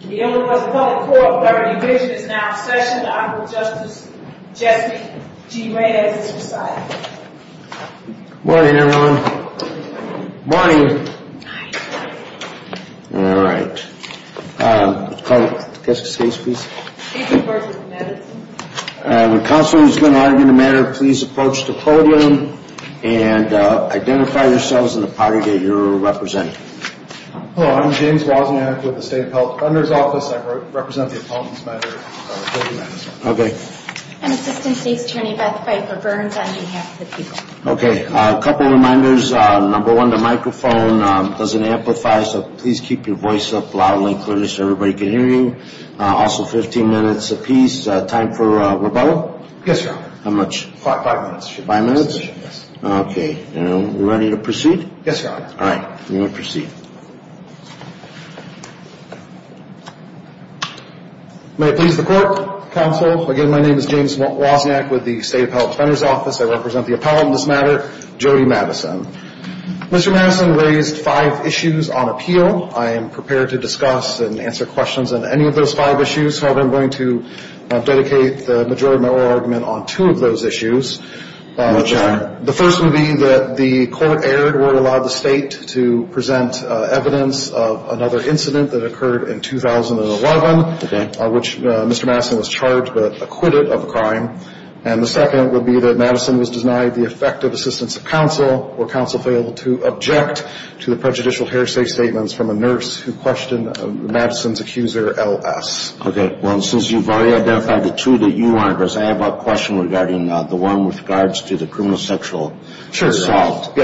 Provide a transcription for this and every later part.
Good morning everyone. Good morning. Alright. Counselor who is going to argue the matter, please approach the podium and identify yourselves and the party that you are representing. Hello, I'm James Wozniak with the State Appellate Defender's Office. I represent the opponent's matter. Okay. And Assistant State's Attorney Beth Pfeiffer-Burns on behalf of the people. Okay. A couple of reminders. Number one, the microphone doesn't amplify, so please keep your voice up loudly and clearly so everybody can hear you. Also 15 minutes apiece. Time for rebuttal? Yes, Your Honor. How much? Five minutes. Five minutes? Okay. And we're ready to proceed? Yes, Your Honor. Alright. We will proceed. May it please the Court, Counsel. Again, my name is James Wozniak with the State Appellate Defender's Office. I represent the opponent's matter, Jody Madison. Mr. Madison raised five issues on appeal. I am prepared to discuss and answer questions on any of those five issues. However, I'm going to dedicate the majority of my oral argument on two of those issues. Which are? The first would be that the court erred where it allowed the State to present evidence of another incident that occurred in 2011. Okay. Which Mr. Madison was charged but acquitted of the crime. And the second would be that Madison was denied the effective assistance of counsel where counsel failed to object to the prejudicial hearsay statements from a nurse who questioned Madison's accuser, L.S. Okay. Well, since you've already identified the two that you want to address, I have a question regarding the one with regards to the criminal sexual assault. Sure,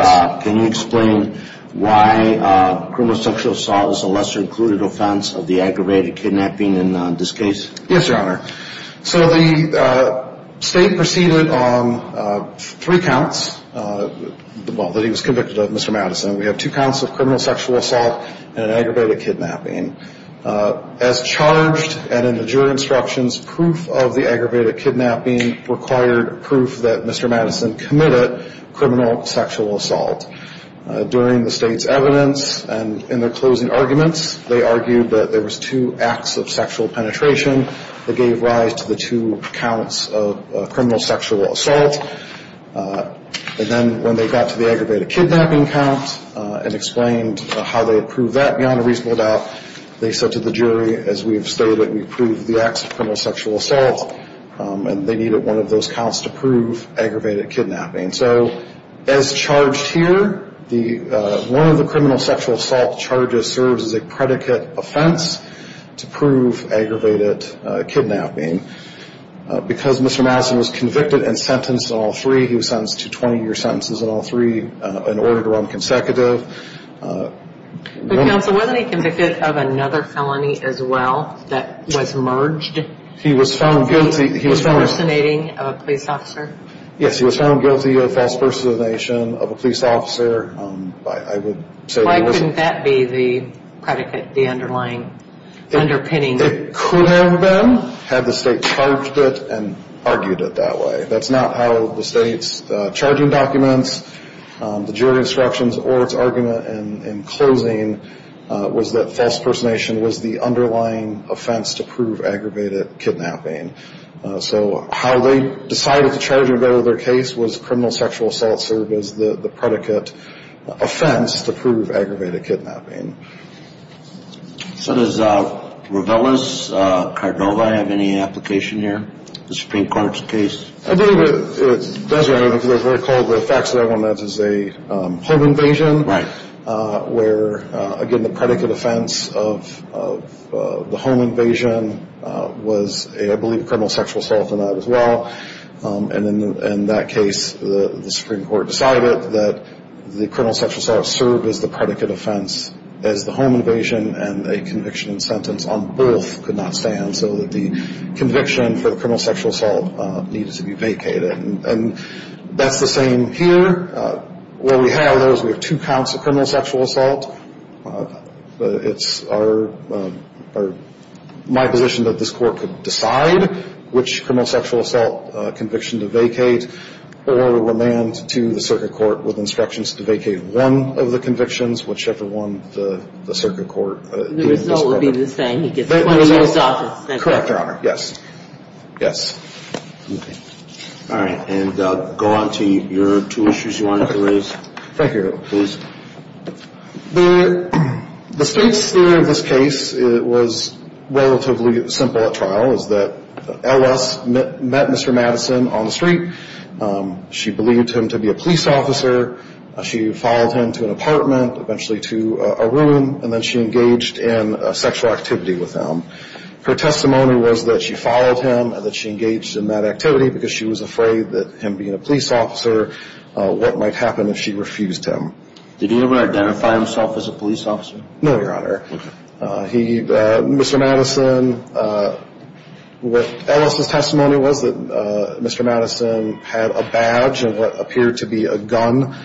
Your Honor. Can you explain why criminal sexual assault is a lesser included offense of the aggravated kidnapping in this case? Yes, Your Honor. So the State proceeded on three counts that he was convicted of, Mr. Madison. We have two counts of criminal sexual assault and an aggravated kidnapping. As charged and in the juror instructions, proof of the aggravated kidnapping required proof that Mr. Madison committed criminal sexual assault. During the State's evidence and in their closing arguments, they argued that there was two acts of sexual penetration that gave rise to the two counts of criminal sexual assault. And then when they got to the aggravated kidnapping count and explained how they approved that beyond a reasonable doubt, they said to the jury, as we have stated, we approve the acts of criminal sexual assault and they needed one of those counts to prove aggravated kidnapping. So as charged here, one of the criminal sexual assault charges serves as a predicate offense to prove aggravated kidnapping. Because Mr. Madison was convicted and sentenced in all three, he was sentenced to 20-year sentences in all three in order to run consecutive. But counsel, wasn't he convicted of another felony as well that was merged? He was found guilty. He was found. Of impersonating a police officer? Yes, he was found guilty of false impersonation of a police officer. I would say he was. Why couldn't that be the predicate, the underlying, underpinning? It could have been, had the state charged it and argued it that way. That's not how the state's charging documents, the jury instructions, or its argument in closing was that false impersonation was the underlying offense to prove aggravated kidnapping. So how they decided to charge him under their case was criminal sexual assault served as the predicate offense to prove aggravated kidnapping. So does Ravellis-Cardova have any application here in the Supreme Court's case? I believe it does, Your Honor, because they're called the facts that everyone knows as a home invasion. Right. Where, again, the predicate offense of the home invasion was a, I believe, criminal sexual assault and that as well. And in that case, the Supreme Court decided that the criminal sexual assault served as the predicate offense as the home invasion, and a conviction and sentence on both could not stand, so that the conviction for the criminal sexual assault needed to be vacated. And that's the same here. Where we have those, we have two counts of criminal sexual assault. It's our, my position that this court could decide which criminal sexual assault conviction to vacate or remand to the circuit court with instructions to vacate one of the convictions, whichever one the circuit court. The result would be the same. He gets 20 years' office. Correct, Your Honor. Yes. Yes. Okay. All right. And go on to your two issues you wanted to raise. Thank you. Please. The state's theory of this case was relatively simple at trial, is that L.S. met Mr. Madison on the street. She believed him to be a police officer. She followed him to an apartment, eventually to a room, and then she engaged in a sexual activity with him. Her testimony was that she followed him and that she engaged in that activity because she was afraid that him being a police officer, what might happen if she refused him. Did he ever identify himself as a police officer? No, Your Honor. Okay. He, Mr. Madison, with L.S.' testimony was that Mr. Madison had a badge of what appeared to be a gun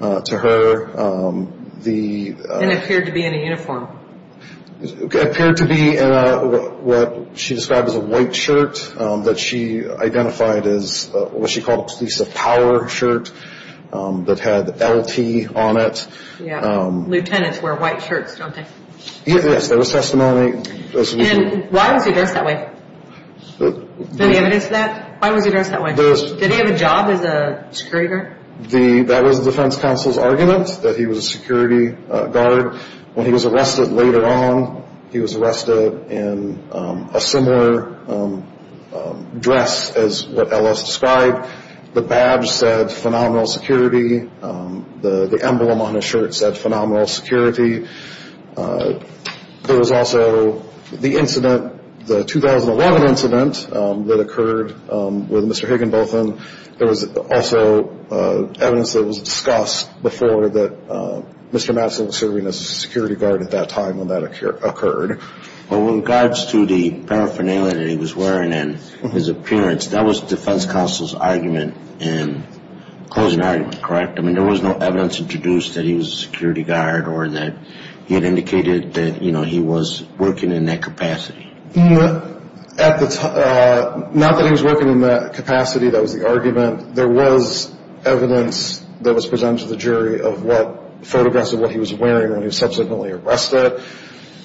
to her. It appeared to be in a uniform. It appeared to be in what she described as a white shirt that she identified as what she called a police of power shirt that had L.T. on it. Yeah. Lieutenants wear white shirts, don't they? Yes. There was testimony. And why was he dressed that way? Any evidence of that? Why was he dressed that way? Did he have a job as a security guard? That was the defense counsel's argument, that he was a security guard. When he was arrested later on, he was arrested in a similar dress as what L.S. described. The badge said phenomenal security. The emblem on his shirt said phenomenal security. There was also the incident, the 2011 incident that occurred with Mr. Higginbotham. There was also evidence that was discussed before that Mr. Madison was serving as a security guard at that time when that occurred. In regards to the paraphernalia that he was wearing and his appearance, that was the defense counsel's argument and closing argument, correct? I mean, there was no evidence introduced that he was a security guard or that he had indicated that he was working in that capacity. Not that he was working in that capacity. That was the argument. There was evidence that was presented to the jury of photographs of what he was wearing when he was subsequently arrested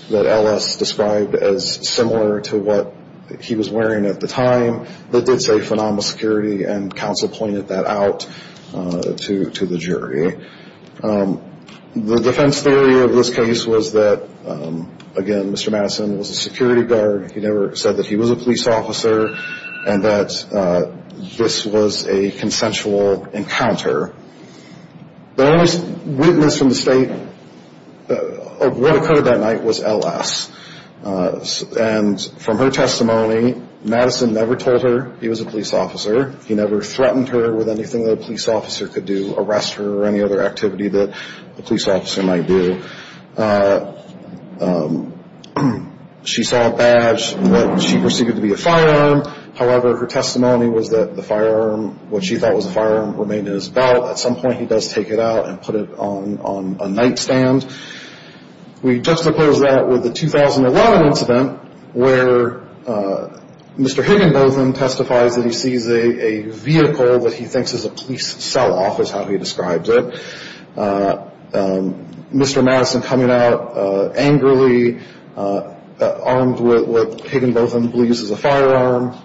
that L.S. described as similar to what he was wearing at the time. That did say phenomenal security, and counsel pointed that out to the jury. The defense theory of this case was that, again, Mr. Madison was a security guard. He never said that he was a police officer and that this was a consensual encounter. The only witness from the state of what occurred that night was L.S. And from her testimony, Madison never told her he was a police officer. He never threatened her with anything that a police officer could do, arrest her or any other activity that a police officer might do. She saw a badge that she perceived to be a firearm. However, her testimony was that the firearm, what she thought was a firearm, remained in his belt. At some point, he does take it out and put it on a nightstand. We juxtapose that with the 2011 incident where Mr. Higginbotham testifies that he sees a vehicle that he thinks is a police sell-off, is how he describes it. Mr. Madison coming out angrily, armed with what Higginbotham believes is a firearm,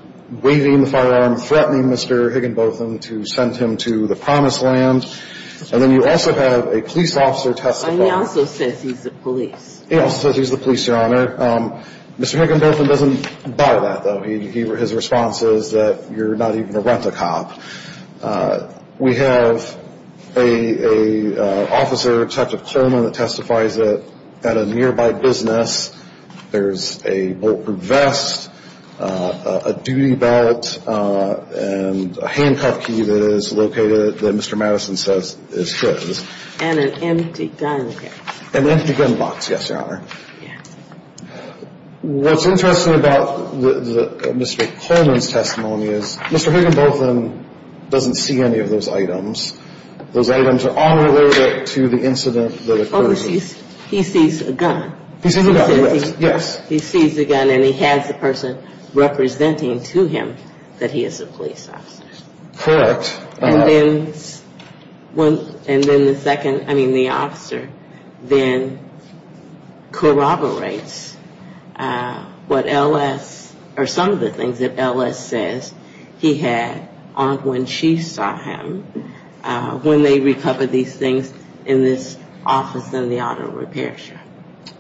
waving the firearm, threatening Mr. Higginbotham to send him to the promised land. And then you also have a police officer testify. And he also says he's the police. He also says he's the police, Your Honor. Mr. Higginbotham doesn't buy that, though. His response is that you're not even a rent-a-cop. We have an officer, Detective Coleman, that testifies at a nearby business. There's a bulletproof vest, a duty belt, and a handcuff key that is located that Mr. Madison says is his. And an empty gun box. An empty gun box, yes, Your Honor. Yes. What's interesting about Mr. Coleman's testimony is Mr. Higginbotham doesn't see any of those items. Those items are unrelated to the incident that occurred. He sees a gun. He sees a gun, yes. He sees a gun, and he has the person representing to him that he is a police officer. Correct. And then the second, I mean the officer, then corroborates what L.S. or some of the things that L.S. says he had on when she saw him when they recovered these things in this office in the auto repair shop.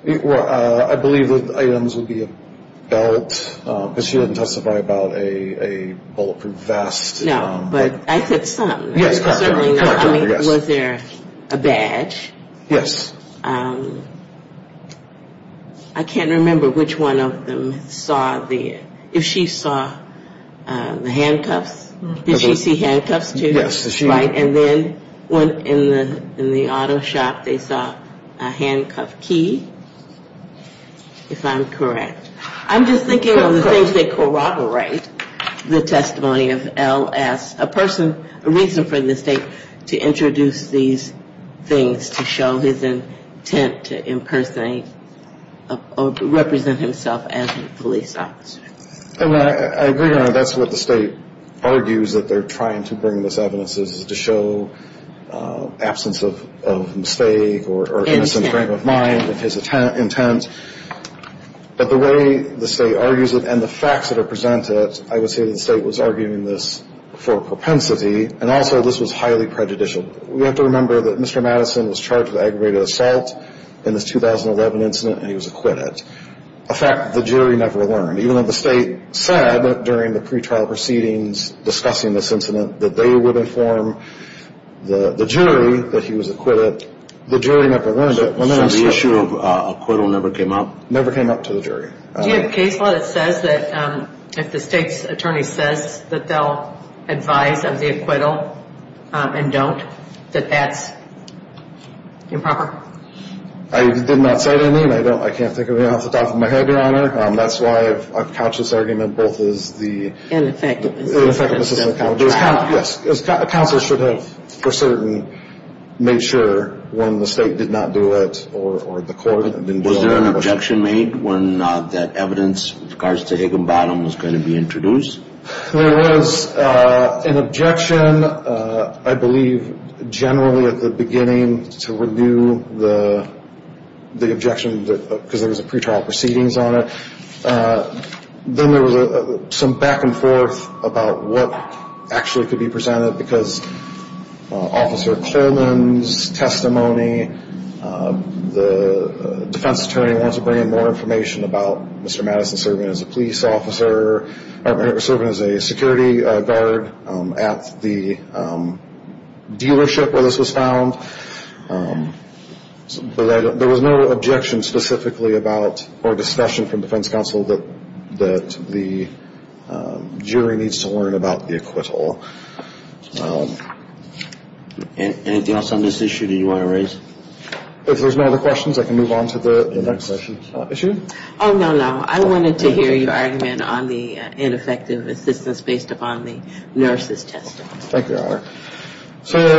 Well, I believe the items would be a belt, because she didn't testify about a bulletproof vest. No, but I said some. Yes, Your Honor. Was there a badge? Yes. I can't remember which one of them saw the, if she saw the handcuffs. Did she see handcuffs too? Yes, she did. Right, and then in the auto shop they saw a handcuff key, if I'm correct. I'm just thinking of the things they corroborate, the testimony of L.S. A person, a reason for the state to introduce these things to show his intent to impersonate or represent himself as a police officer. I agree, Your Honor. That's what the state argues that they're trying to bring this evidence is to show absence of mistake or innocent frame of mind of his intent. But the way the state argues it and the facts that are presented, I would say the state was arguing this for propensity, and also this was highly prejudicial. We have to remember that Mr. Madison was charged with aggravated assault in this 2011 incident, and he was acquitted. A fact the jury never learned. Even though the state said during the pretrial proceedings discussing this incident that they would inform the jury that he was acquitted, the jury never learned it. So the issue of acquittal never came up? Never came up to the jury. Do you have a case law that says that if the state's attorney says that they'll advise of the acquittal and don't, that that's improper? I did not cite any, and I can't think of anything off the top of my head, Your Honor. That's why I've couched this argument both as the- Ineffectiveness. Counsel should have for certain made sure when the state did not do it or the court- Was there an objection made when that evidence with regards to Higginbottom was going to be introduced? There was an objection, I believe, generally at the beginning to renew the objection because there was a pretrial proceedings on it. Then there was some back and forth about what actually could be presented because Officer Coleman's testimony, the defense attorney wants to bring in more information about Mr. Madison serving as a police officer, or serving as a security guard at the dealership where this was found. There was no objection specifically about or discussion from defense counsel that the jury needs to learn about the acquittal. Anything else on this issue that you want to raise? If there's no other questions, I can move on to the next issue. Oh, no, no. I wanted to hear your argument on the ineffective assistance based upon the nurse's testimony. Thank you, Your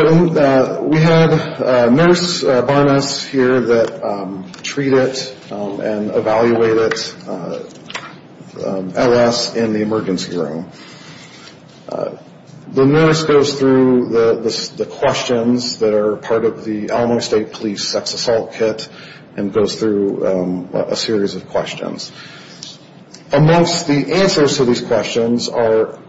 Honor. We have a nurse by us here that treated and evaluated L.S. in the emergency room. The nurse goes through the questions that are part of the Illinois State Police Sex Assault Kit and goes through a series of questions. Amongst the answers to these questions are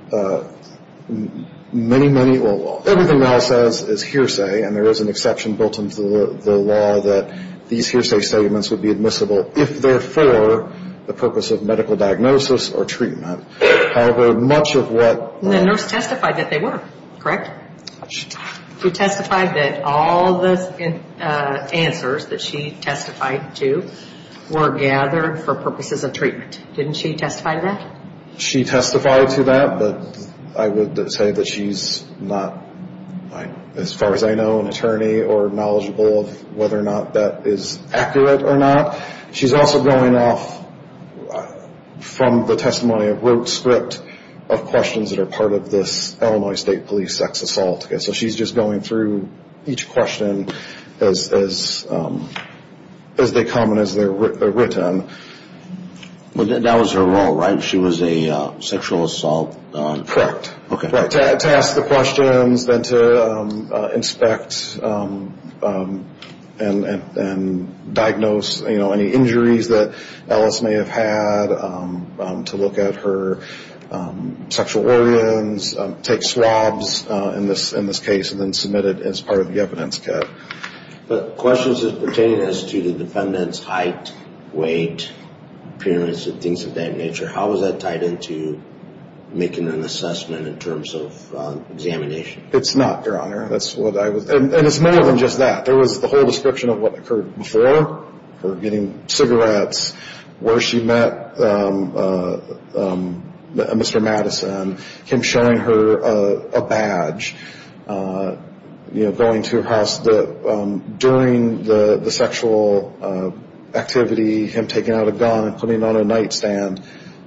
many, many, well, everything else is hearsay, and there is an exception built into the law that these hearsay statements would be admissible if they're for the purpose of medical diagnosis or treatment. However, much of what the nurse testified that they were, correct? Correct. She testified that all the answers that she testified to were gathered for purposes of treatment. Didn't she testify to that? She testified to that, but I would say that she's not, as far as I know, an attorney or knowledgeable of whether or not that is accurate or not. She's also going off from the testimony of rote script of questions that are part of this Illinois State Police Sex Assault Kit. So she's just going through each question as they come and as they're written. That was her role, right? She was a sexual assault? Correct. To ask the questions, then to inspect and diagnose any injuries that Ellis may have had, to look at her sexual organs, take swabs in this case and then submit it as part of the evidence kit. But questions pertaining as to the defendant's height, weight, appearance and things of that nature, how is that tied into making an assessment in terms of examination? It's not, Your Honor. And it's more than just that. There was the whole description of what occurred before, her getting cigarettes, where she met Mr. Madison, him showing her a badge, going to her house. During the sexual activity, him taking out a gun and putting it on a nightstand.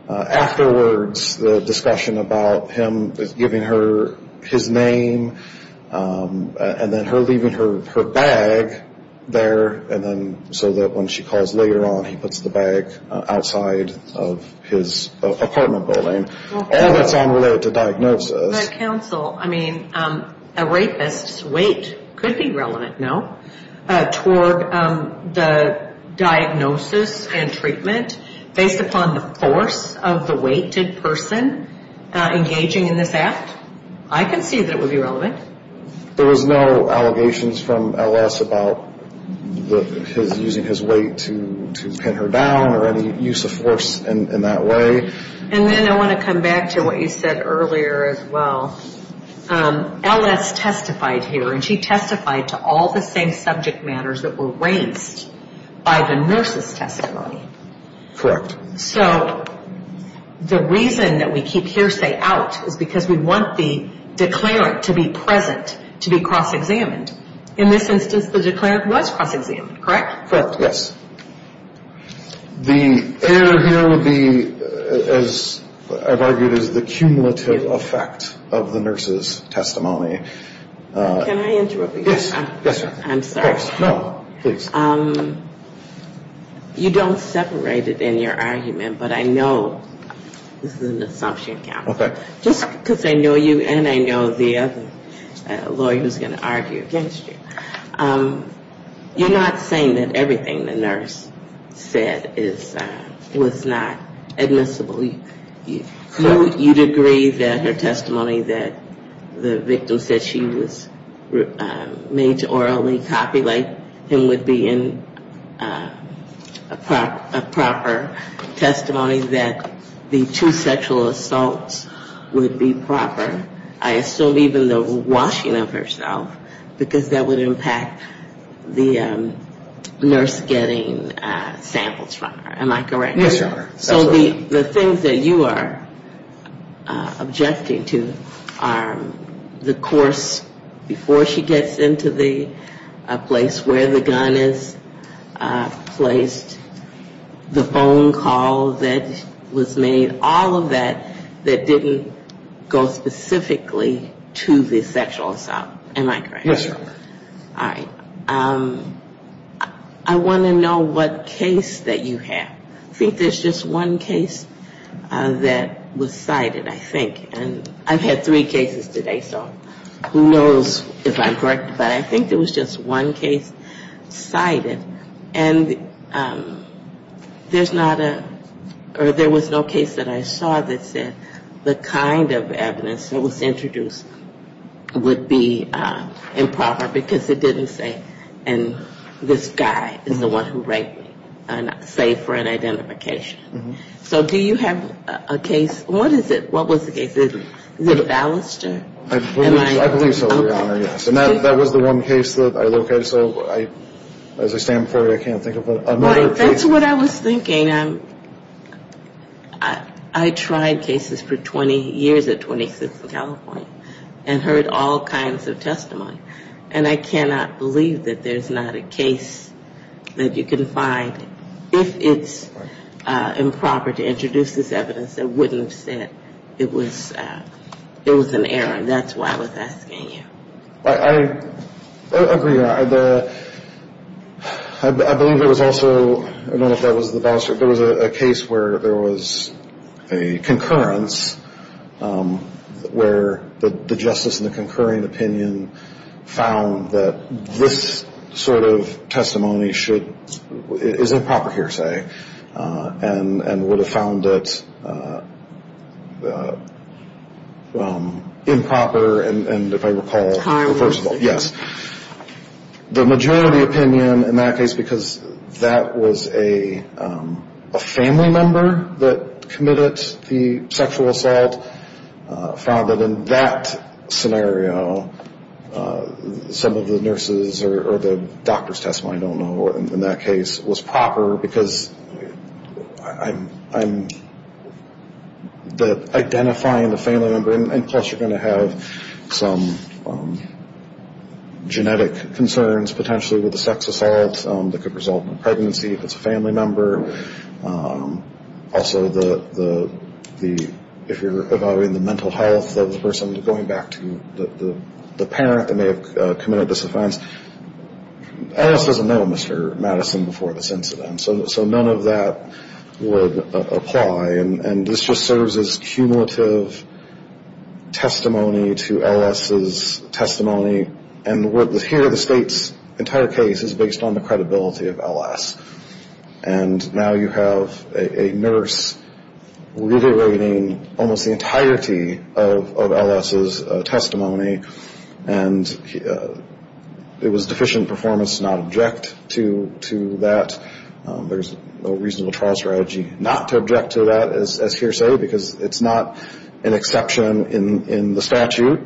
Afterwards, the discussion about him giving her his name and then her leaving her bag there so that when she calls later on, he puts the bag outside of his apartment building. All that's unrelated to diagnosis. But counsel, I mean, a rapist's weight could be relevant, no? Toward the diagnosis and treatment based upon the force of the weighted person engaging in this act? I can see that it would be relevant. There was no allegations from Ellis about using his weight to pin her down or any use of force in that way. And then I want to come back to what you said earlier as well. Ellis testified here, and she testified to all the same subject matters that were raised by the nurse's testimony. Correct. So the reason that we keep hearsay out is because we want the declarant to be present to be cross-examined. In this instance, the declarant was cross-examined, correct? Correct, yes. The error here would be, as I've argued, is the cumulative effect of the nurse's testimony. Can I interrupt you? Yes, yes. I'm sorry. No, please. You don't separate it in your argument, but I know this is an assumption, counsel. Okay. Just because I know you and I know the other lawyer who's going to argue against you. You're not saying that everything the nurse said was not admissible. You'd agree that her testimony that the victim said she was made to orally copulate him would be a proper testimony, that the two sexual assaults would be proper. I assume even the washing of herself, because that would impact the nurse getting samples from her. Am I correct? Yes, Your Honor. So the things that you are objecting to are the course before she gets into the place where the gun is placed, the phone call that was made, all of that, that didn't go specifically to the sexual assault. Am I correct? Yes, Your Honor. All right. I want to know what case that you have. I think there's just one case that was cited, I think. And I've had three cases today, so who knows if I'm correct, but I think there was just one case cited. And there's not a or there was no case that I saw that said the kind of evidence that was introduced would be improper, because it didn't say, and this guy is the one who raped me, save for an identification. So do you have a case? What is it? What was the case? Is it Ballester? I believe so, Your Honor, yes. And that was the one case that I located, so as I stand before you, I can't think of another case. That's what I was thinking. I tried cases for 20 years at 26th and California and heard all kinds of testimony, and I cannot believe that there's not a case that you can find. If it's improper to introduce this evidence, it wouldn't have said it was an error. And that's why I was asking you. I agree, Your Honor. I believe there was also, I don't know if that was the Ballester, there was a case where there was a concurrence where the justice in the concurring opinion found that this sort of testimony should, is improper hearsay and would have found it improper and, if I recall, reversible. Tireless. Yes. The majority opinion in that case, because that was a family member that committed the sexual assault, found that in that scenario some of the nurses or the doctor's testimony, I don't know, in that case was proper because I'm identifying the family member, and plus you're going to have some genetic concerns potentially with the sex assault that could result in pregnancy if it's a family member. Also, if you're evaluating the mental health of the person going back to the parent that may have committed this offense, L.S. doesn't know Mr. Madison before this incident, so none of that would apply. And this just serves as cumulative testimony to L.S.'s testimony. And here the State's entire case is based on the credibility of L.S. And now you have a nurse reiterating almost the entirety of L.S.'s testimony. And it was deficient performance to not object to that. There's a reasonable trial strategy not to object to that, as hearsay, because it's not an exception in the statute.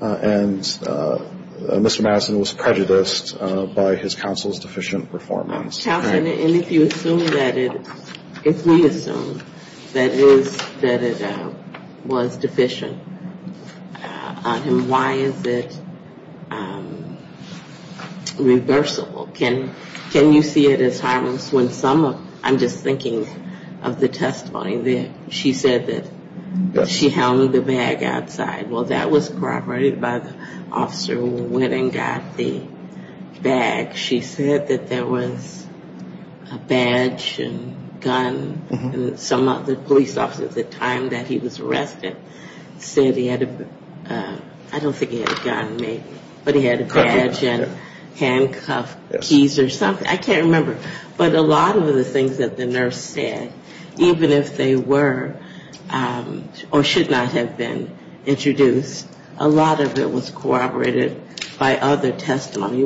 And Mr. Madison was prejudiced by his counsel's deficient performance. Counsel, and if you assume that it's, if we assume that it was deficient on him, why is it reversible? Can you see it as harmless when some of, I'm just thinking of the testimony that she said that she held the bag outside. Well, that was corroborated by the officer who went and got the bag. She said that there was a badge and gun, and some of the police officers at the time that he was arrested said he had a, I don't think he had a gun, maybe, but he had a badge and handcuffed keys or something, I can't remember. But a lot of the things that the nurse said, even if they were or should not have been introduced, a lot of it was corroborated by other testimony.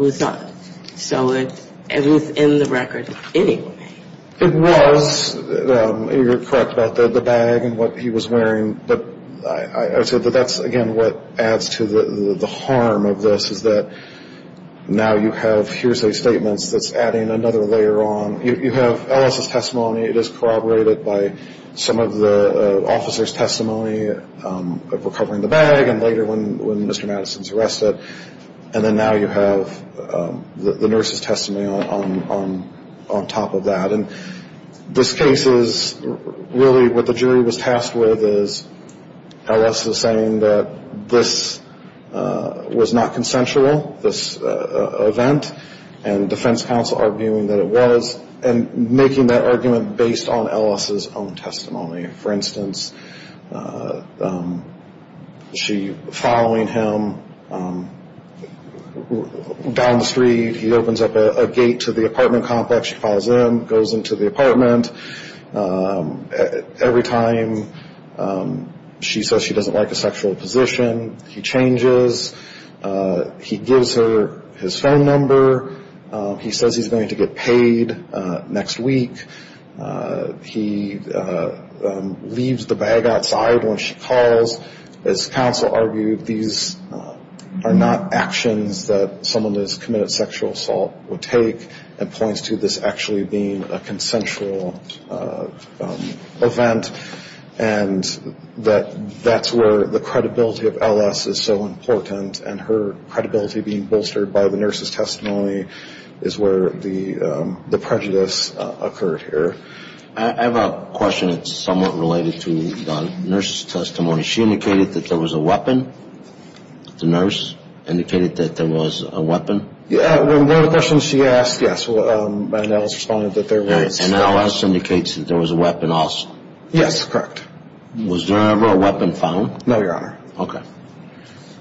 So it was in the record anyway. It was, you're correct about the bag and what he was wearing, but I would say that that's, again, what adds to the harm of this, is that now you have hearsay statements that's adding another layer on, you have Ellis' testimony, it is corroborated by some of the officer's testimony of recovering the bag, and later when Mr. Fletcher was arrested, you have the nurse's testimony on top of that. And this case is really what the jury was tasked with, is Ellis is saying that this was not consensual, this event, and defense counsel arguing that it was, and making that argument based on Ellis' own testimony. For instance, she, following him down the street, he opens up a gate to the apartment complex, she follows in, goes into the apartment, every time she says she doesn't like a sexual position, he changes, he gives her his phone number, he says he's going to get paid next week, he leaves the bag outside when she calls. As counsel argued, these are not actions that someone who has committed sexual assault would take, and points to this actually being a consensual event. And that's where the credibility of Ellis is so important, and her credibility being bolstered by the nurse's testimony is where the prejudice occurs. I have a question that's somewhat related to the nurse's testimony. She indicated that there was a weapon? The nurse indicated that there was a weapon? One of the questions she asked, yes, and Ellis responded that there was. And Ellis indicates that there was a weapon also? Yes, correct. Was there ever a weapon found? No, Your Honor.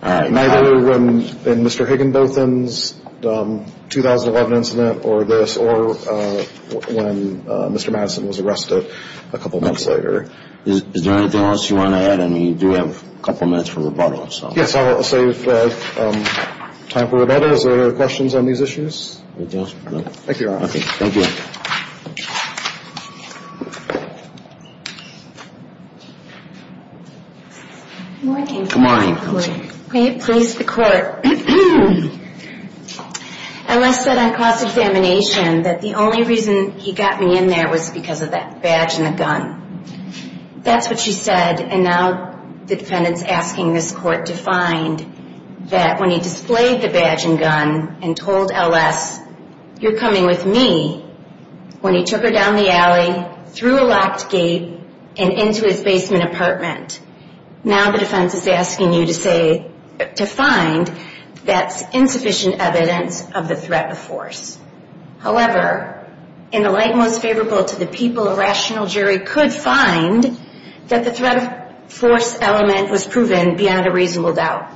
Neither in Mr. Higginbotham's 2011 incident or this, or when Mr. Madison was arrested a couple months later. Is there anything else you want to add? I mean, you do have a couple minutes for rebuttal. Yes, I'll save time for rebuttal. Is there any questions on these issues? Thank you, Your Honor. Good morning. Good morning. May it please the Court. Ellis said on cross-examination that the only reason he got me in there was because of that badge and the gun. That's what she said, and now the defendant's asking this Court to find that when he displayed the badge and gun and told Ellis, you're coming with me, when he took her down the alley, through a locked gate, and into his basement apartment. Now the defense is asking you to find that's insufficient evidence of the threat of force. However, in the light most favorable to the people, a rational jury could find that the threat of force element was proven beyond a reasonable doubt.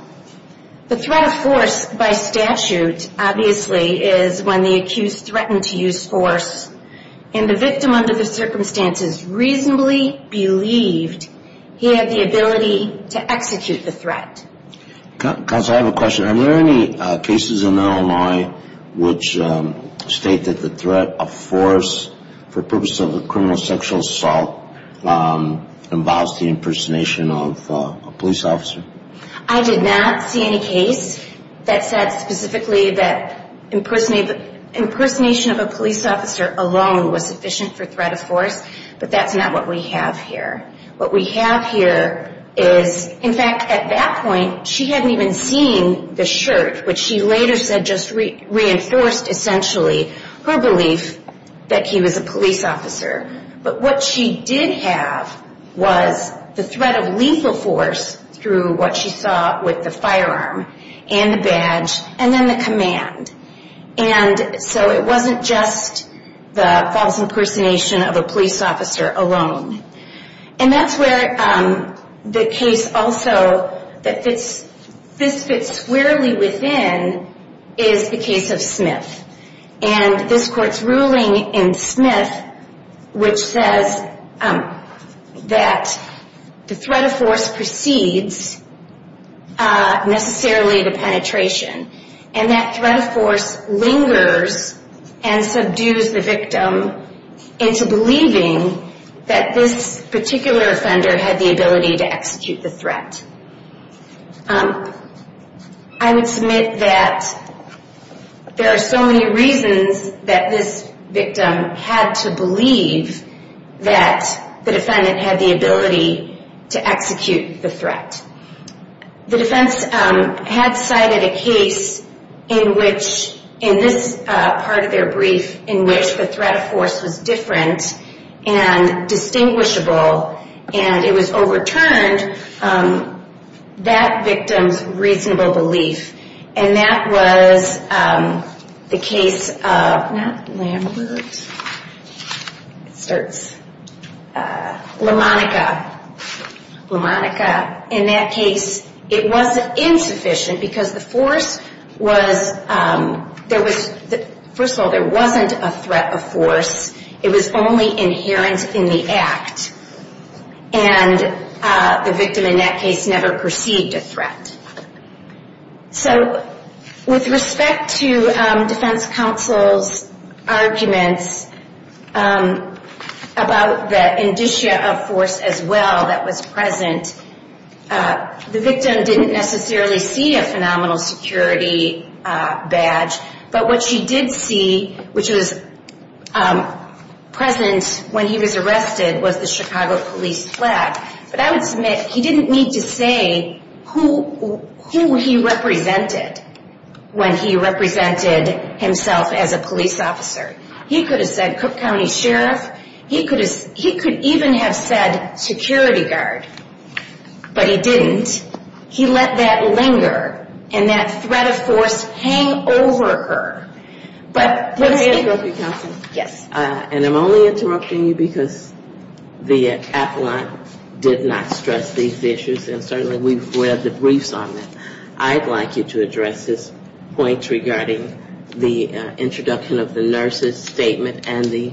The threat of force by statute, obviously, is when the accused threatened to use force, and the victim under the circumstances reasonably believed he had the ability to execute the threat. Counsel, I have a question. Are there any cases in Illinois which state that the threat of force for purposes of a criminal sexual assault involves the impersonation of a police officer? I did not see any case that said specifically that impersonation of a police officer alone was sufficient for threat of force, but that's not what we have here. What we have here is, in fact, at that point, she hadn't even seen the shirt, which she later said just reinforced essentially her belief that he was a police officer. But what she did have was the threat of lethal force through what she saw with the firearm, and the badge, and then the command. And so it wasn't just the false impersonation of a police officer alone. And that's where the case also that fits, this fits squarely within, is the case of Smith. And this court's ruling in Smith, which says that the threat of force precedes necessarily the penetration, and that threat of force lingers and subdues the victim into believing that this particular offender had the ability to execute the threat. I would submit that there are so many reasons that this victim had to believe that the defendant had the ability to execute the threat. The defense had cited a case in which, in this part of their brief, in which the threat of force was different and distinguishable, and it was overturned by the defense. That victim's reasonable belief, and that was the case of Lamonica. In that case, it wasn't insufficient, because the force was, there was, first of all, there wasn't a threat of force. It was only inherent in the act, and the victim in that case never perceived a threat. So with respect to defense counsel's arguments about the indicia of force as well that was present, the victim didn't necessarily see a phenomenal security badge. But what she did see, which was present when he was arrested, was the Chicago police flag. But I would submit he didn't need to say who he represented when he represented himself as a police officer. He could have said Cook County Sheriff. He could even have said security guard. But he didn't. He let that linger, and that threat of force hang over her. And I'm only interrupting you because the appellant did not stress these issues, and certainly we've read the briefs on them. I'd like you to address this point regarding the introduction of the nurse's statement and the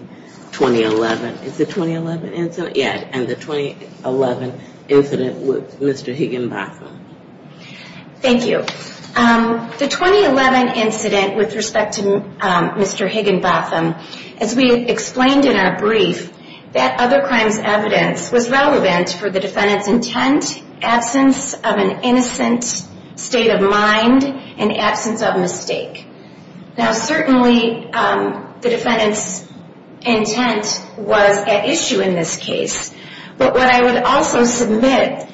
2011 incident with Mr. Higginbotham. Thank you. The 2011 incident with respect to Mr. Higginbotham, as we explained in our brief, that other crime's evidence was relevant for the defendant's intent, absence of an innocent subject. State of mind and absence of mistake. Now certainly the defendant's intent was at issue in this case. But what I would also submit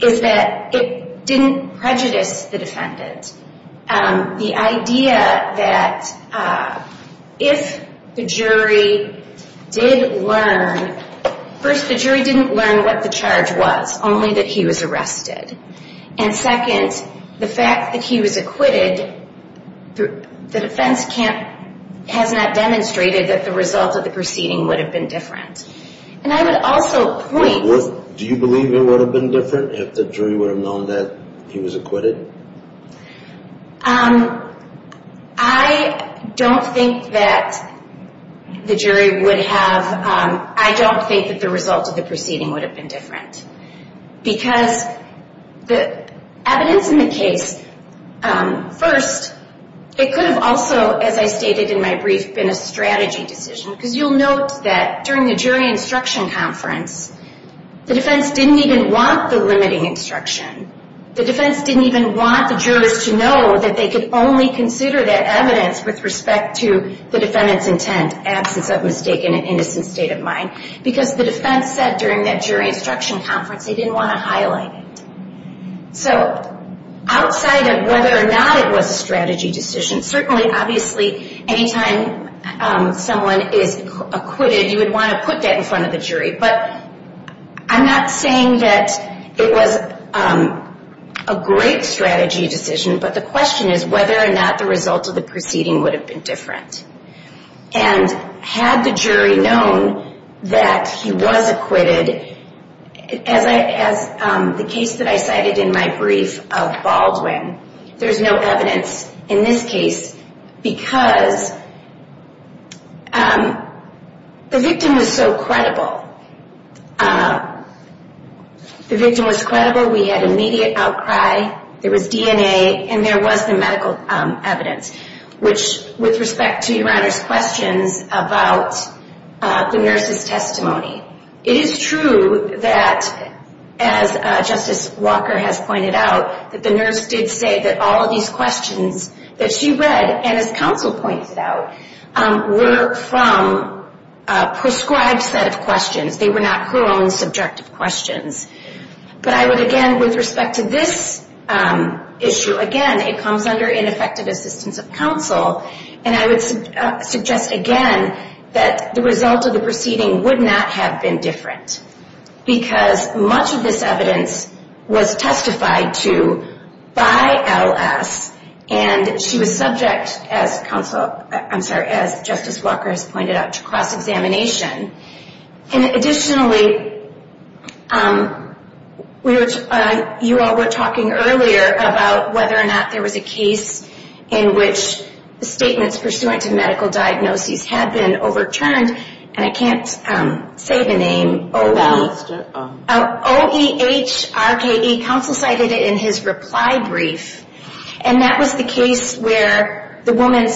is that it didn't prejudice the defendant. The idea that if the jury did learn, first the jury didn't learn what the charge was, only that he was arrested. And second, the fact that he was acquitted, the defense has not demonstrated that the result of the proceeding would have been different. And I would also point... Do you believe it would have been different if the jury would have known that he was acquitted? I don't think that the jury would have... I don't think that the result of the proceeding would have been different. Because the evidence in the case... First, it could have also, as I stated in my brief, been a strategy decision. Because you'll note that during the jury instruction conference, the defense didn't even want the limiting instruction. The defense didn't even want the jurors to know that they could only consider that evidence with respect to the defendant's intent, absence of mistake, and an innocent state of mind. Because the defense said during that jury instruction conference they didn't want to highlight it. So outside of whether or not it was a strategy decision, certainly, obviously, anytime someone is acquitted, you would want to put that in front of the jury. But I'm not saying that it was a great strategy decision, but the question is whether or not the result of the proceeding would have been different. And had the jury known that he was acquitted, as the case that I cited in my brief of Baldwin, there's no evidence in this case. Because the victim was so credible. The victim was credible, we had immediate outcry, there was DNA, and there was the medical evidence. Which, with respect to Your Honor's questions about the nurse's testimony, it is true that, as Justice Walker has pointed out, that the nurse did say that all of these questions that she read, and as counsel pointed out, were from a prescribed set of questions. They were not her own subjective questions. But I would, again, with respect to this issue, again, it comes under ineffective assistance of counsel, and I would suggest, again, that the result of the proceeding would not have been different. Because much of this evidence was testified to by L.S., and she was subject, as Justice Walker has pointed out, to cross-examination. And additionally, you all were talking earlier about whether or not there was a case in which the statements pursuant to medical diagnoses had been overturned, and I can't say the name. O-E-H-R-K-E, counsel cited it in his reply brief, and that was the case where the woman,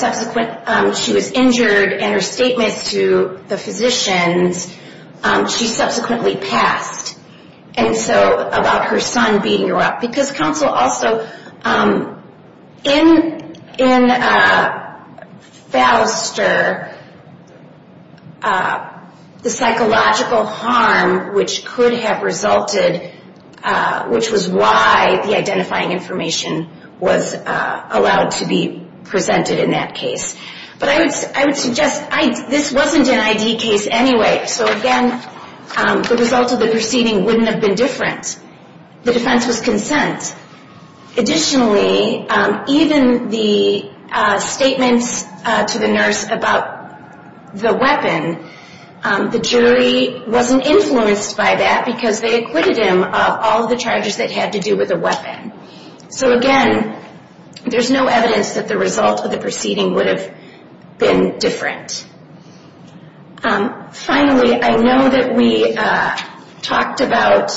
she was injured, and her statements to the physicians, she subsequently passed. And so, about her son beating her up. Because counsel also, in Fouster, the psychological harm which could have resulted, which was why the identifying information was allowed to be presented in that case. But I would suggest, this wasn't an I.D. case anyway, so again, the result of the proceeding wouldn't have been different. The defense was consent. Additionally, even the statements to the nurse about the weapon, the jury wasn't influenced by that, because they acquitted him of all the charges that had to do with the weapon. So again, there's no evidence that the result of the proceeding would have been different. Finally, I know that we talked about,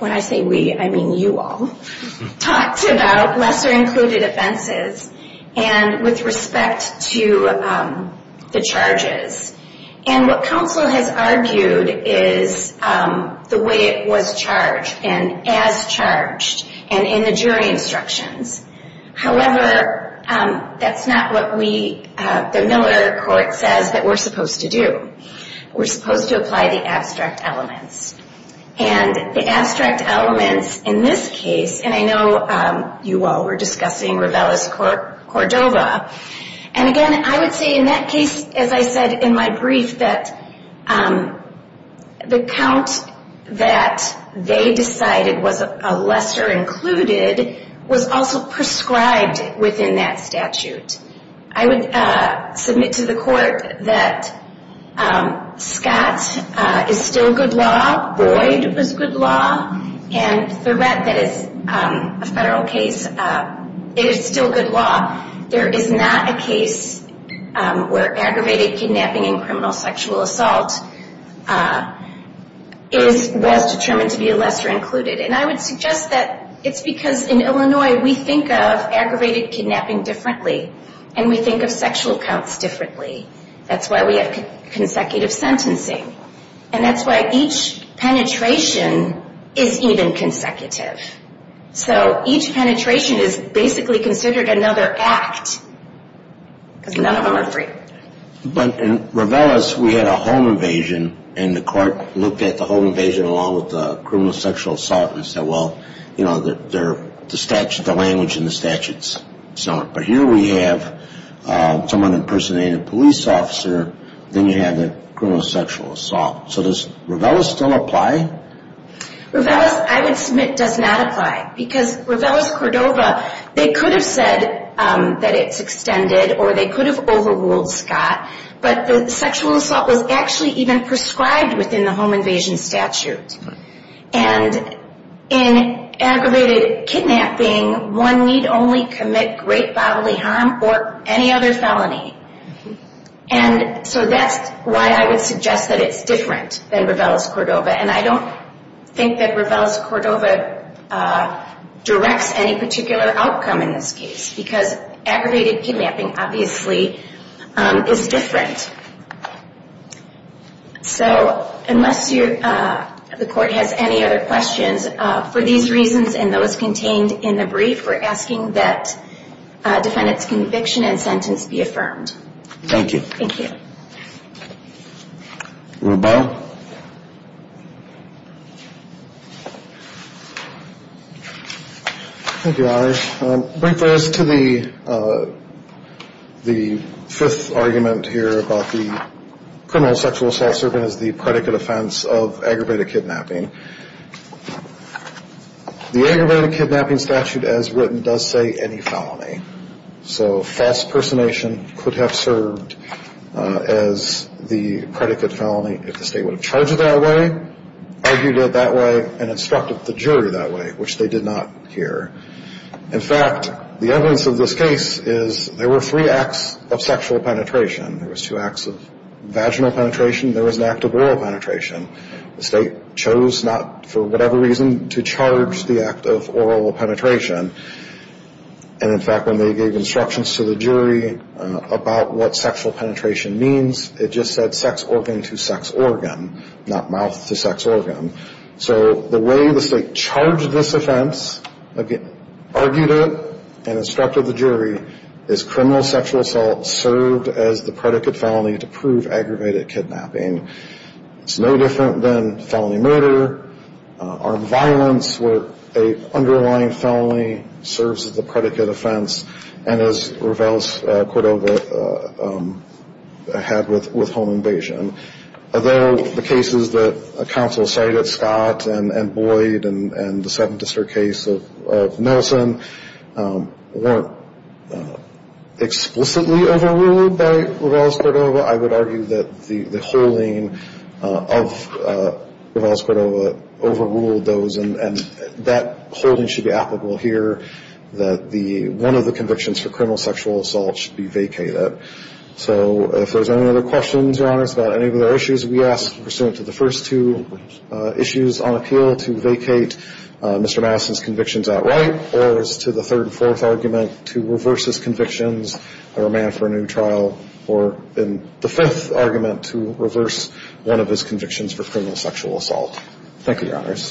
when I say we, I mean you all, talked about lesser included offenses, and with respect to the charges. And what counsel has argued is the way it was charged, and as charged, and in the jury instructions. However, that's not what the Miller Court says that we're supposed to do. We're supposed to apply the abstract elements. And the abstract elements in this case, and I know you all were discussing Ravellis-Cordova, and again, I would say in that case, as I said in my brief, that the count that they decided was a lesser included, was also prescribed within that statute. I would submit to the court that Scott is still good law, Boyd was good law, and Thorette, that is a federal case, is still good law. There is not a case where aggravated kidnapping and criminal sexual assault was determined to be a lesser included. And I would suggest that it's because in Illinois we think of aggravated kidnapping differently. And we think of sexual counts differently. That's why we have consecutive sentencing. And that's why each penetration is even consecutive. So each penetration is basically considered another act, because none of them are free. But in Ravellis, we had a home invasion, and the court looked at the home invasion along with the criminal sexual assault and said, well, the language in the statutes, but here we have someone impersonating a police officer, then you have the criminal sexual assault. So does Ravellis still apply? Ravellis, I would submit, does not apply. Because Ravellis-Cordova, they could have said that it's extended, or they could have overruled Scott, but the sexual assault was actually even prescribed within the home invasion statute. And in aggravated kidnapping, one need only commit great bodily harm or any other felony. And so that's why I would suggest that it's different than Ravellis-Cordova. And I don't think that Ravellis-Cordova directs any particular outcome in this case, because aggravated kidnapping obviously is different. So unless the court has any other questions, for these reasons and those contained in the brief, we're asking that defendant's conviction and sentence be affirmed. Thank you. Thank you, Your Honor. Briefness to the fifth argument here about the criminal sexual assault serving as the predicate offense of aggravated kidnapping. The aggravated kidnapping statute as written does say any felony. So false personation could have served as the predicate felony if the State would have charged it that way, argued it that way, and instructed the jury that way, which they did not here. In fact, the evidence of this case is there were three acts of sexual penetration. There was two acts of vaginal penetration, there was an act of oral penetration. The State chose not, for whatever reason, to charge the act of oral penetration. And, in fact, when they gave instructions to the jury about what sexual penetration means, it just said sex organ to sex organ, not mouth to sex organ. So the way the State charged this offense, argued it, and instructed the jury, is criminal sexual assault served as the predicate felony to prove aggravated kidnapping. It's no different than felony murder, armed violence where an underlying felony serves as the predicate offense, and as Ravel's quote over had with home invasion. Although the cases that counsel cited, Scott and Boyd and the Seventh District case of Nelson, weren't explicitly overruled by Ravel's quote over, I would argue that the holding of Ravel's quote over overruled those, and that holding should be applicable here, that one of the convictions for criminal sexual assault should be vacated. So if there's any other questions, Your Honors, about any other issues, we ask, pursuant to the first two issues on appeal, to vacate Mr. Madison's convictions outright, or as to the third and fourth argument, to reverse his convictions for a man for a new trial, or in the fifth argument, to reverse one of his convictions for criminal sexual assault. Thank you, Your Honors.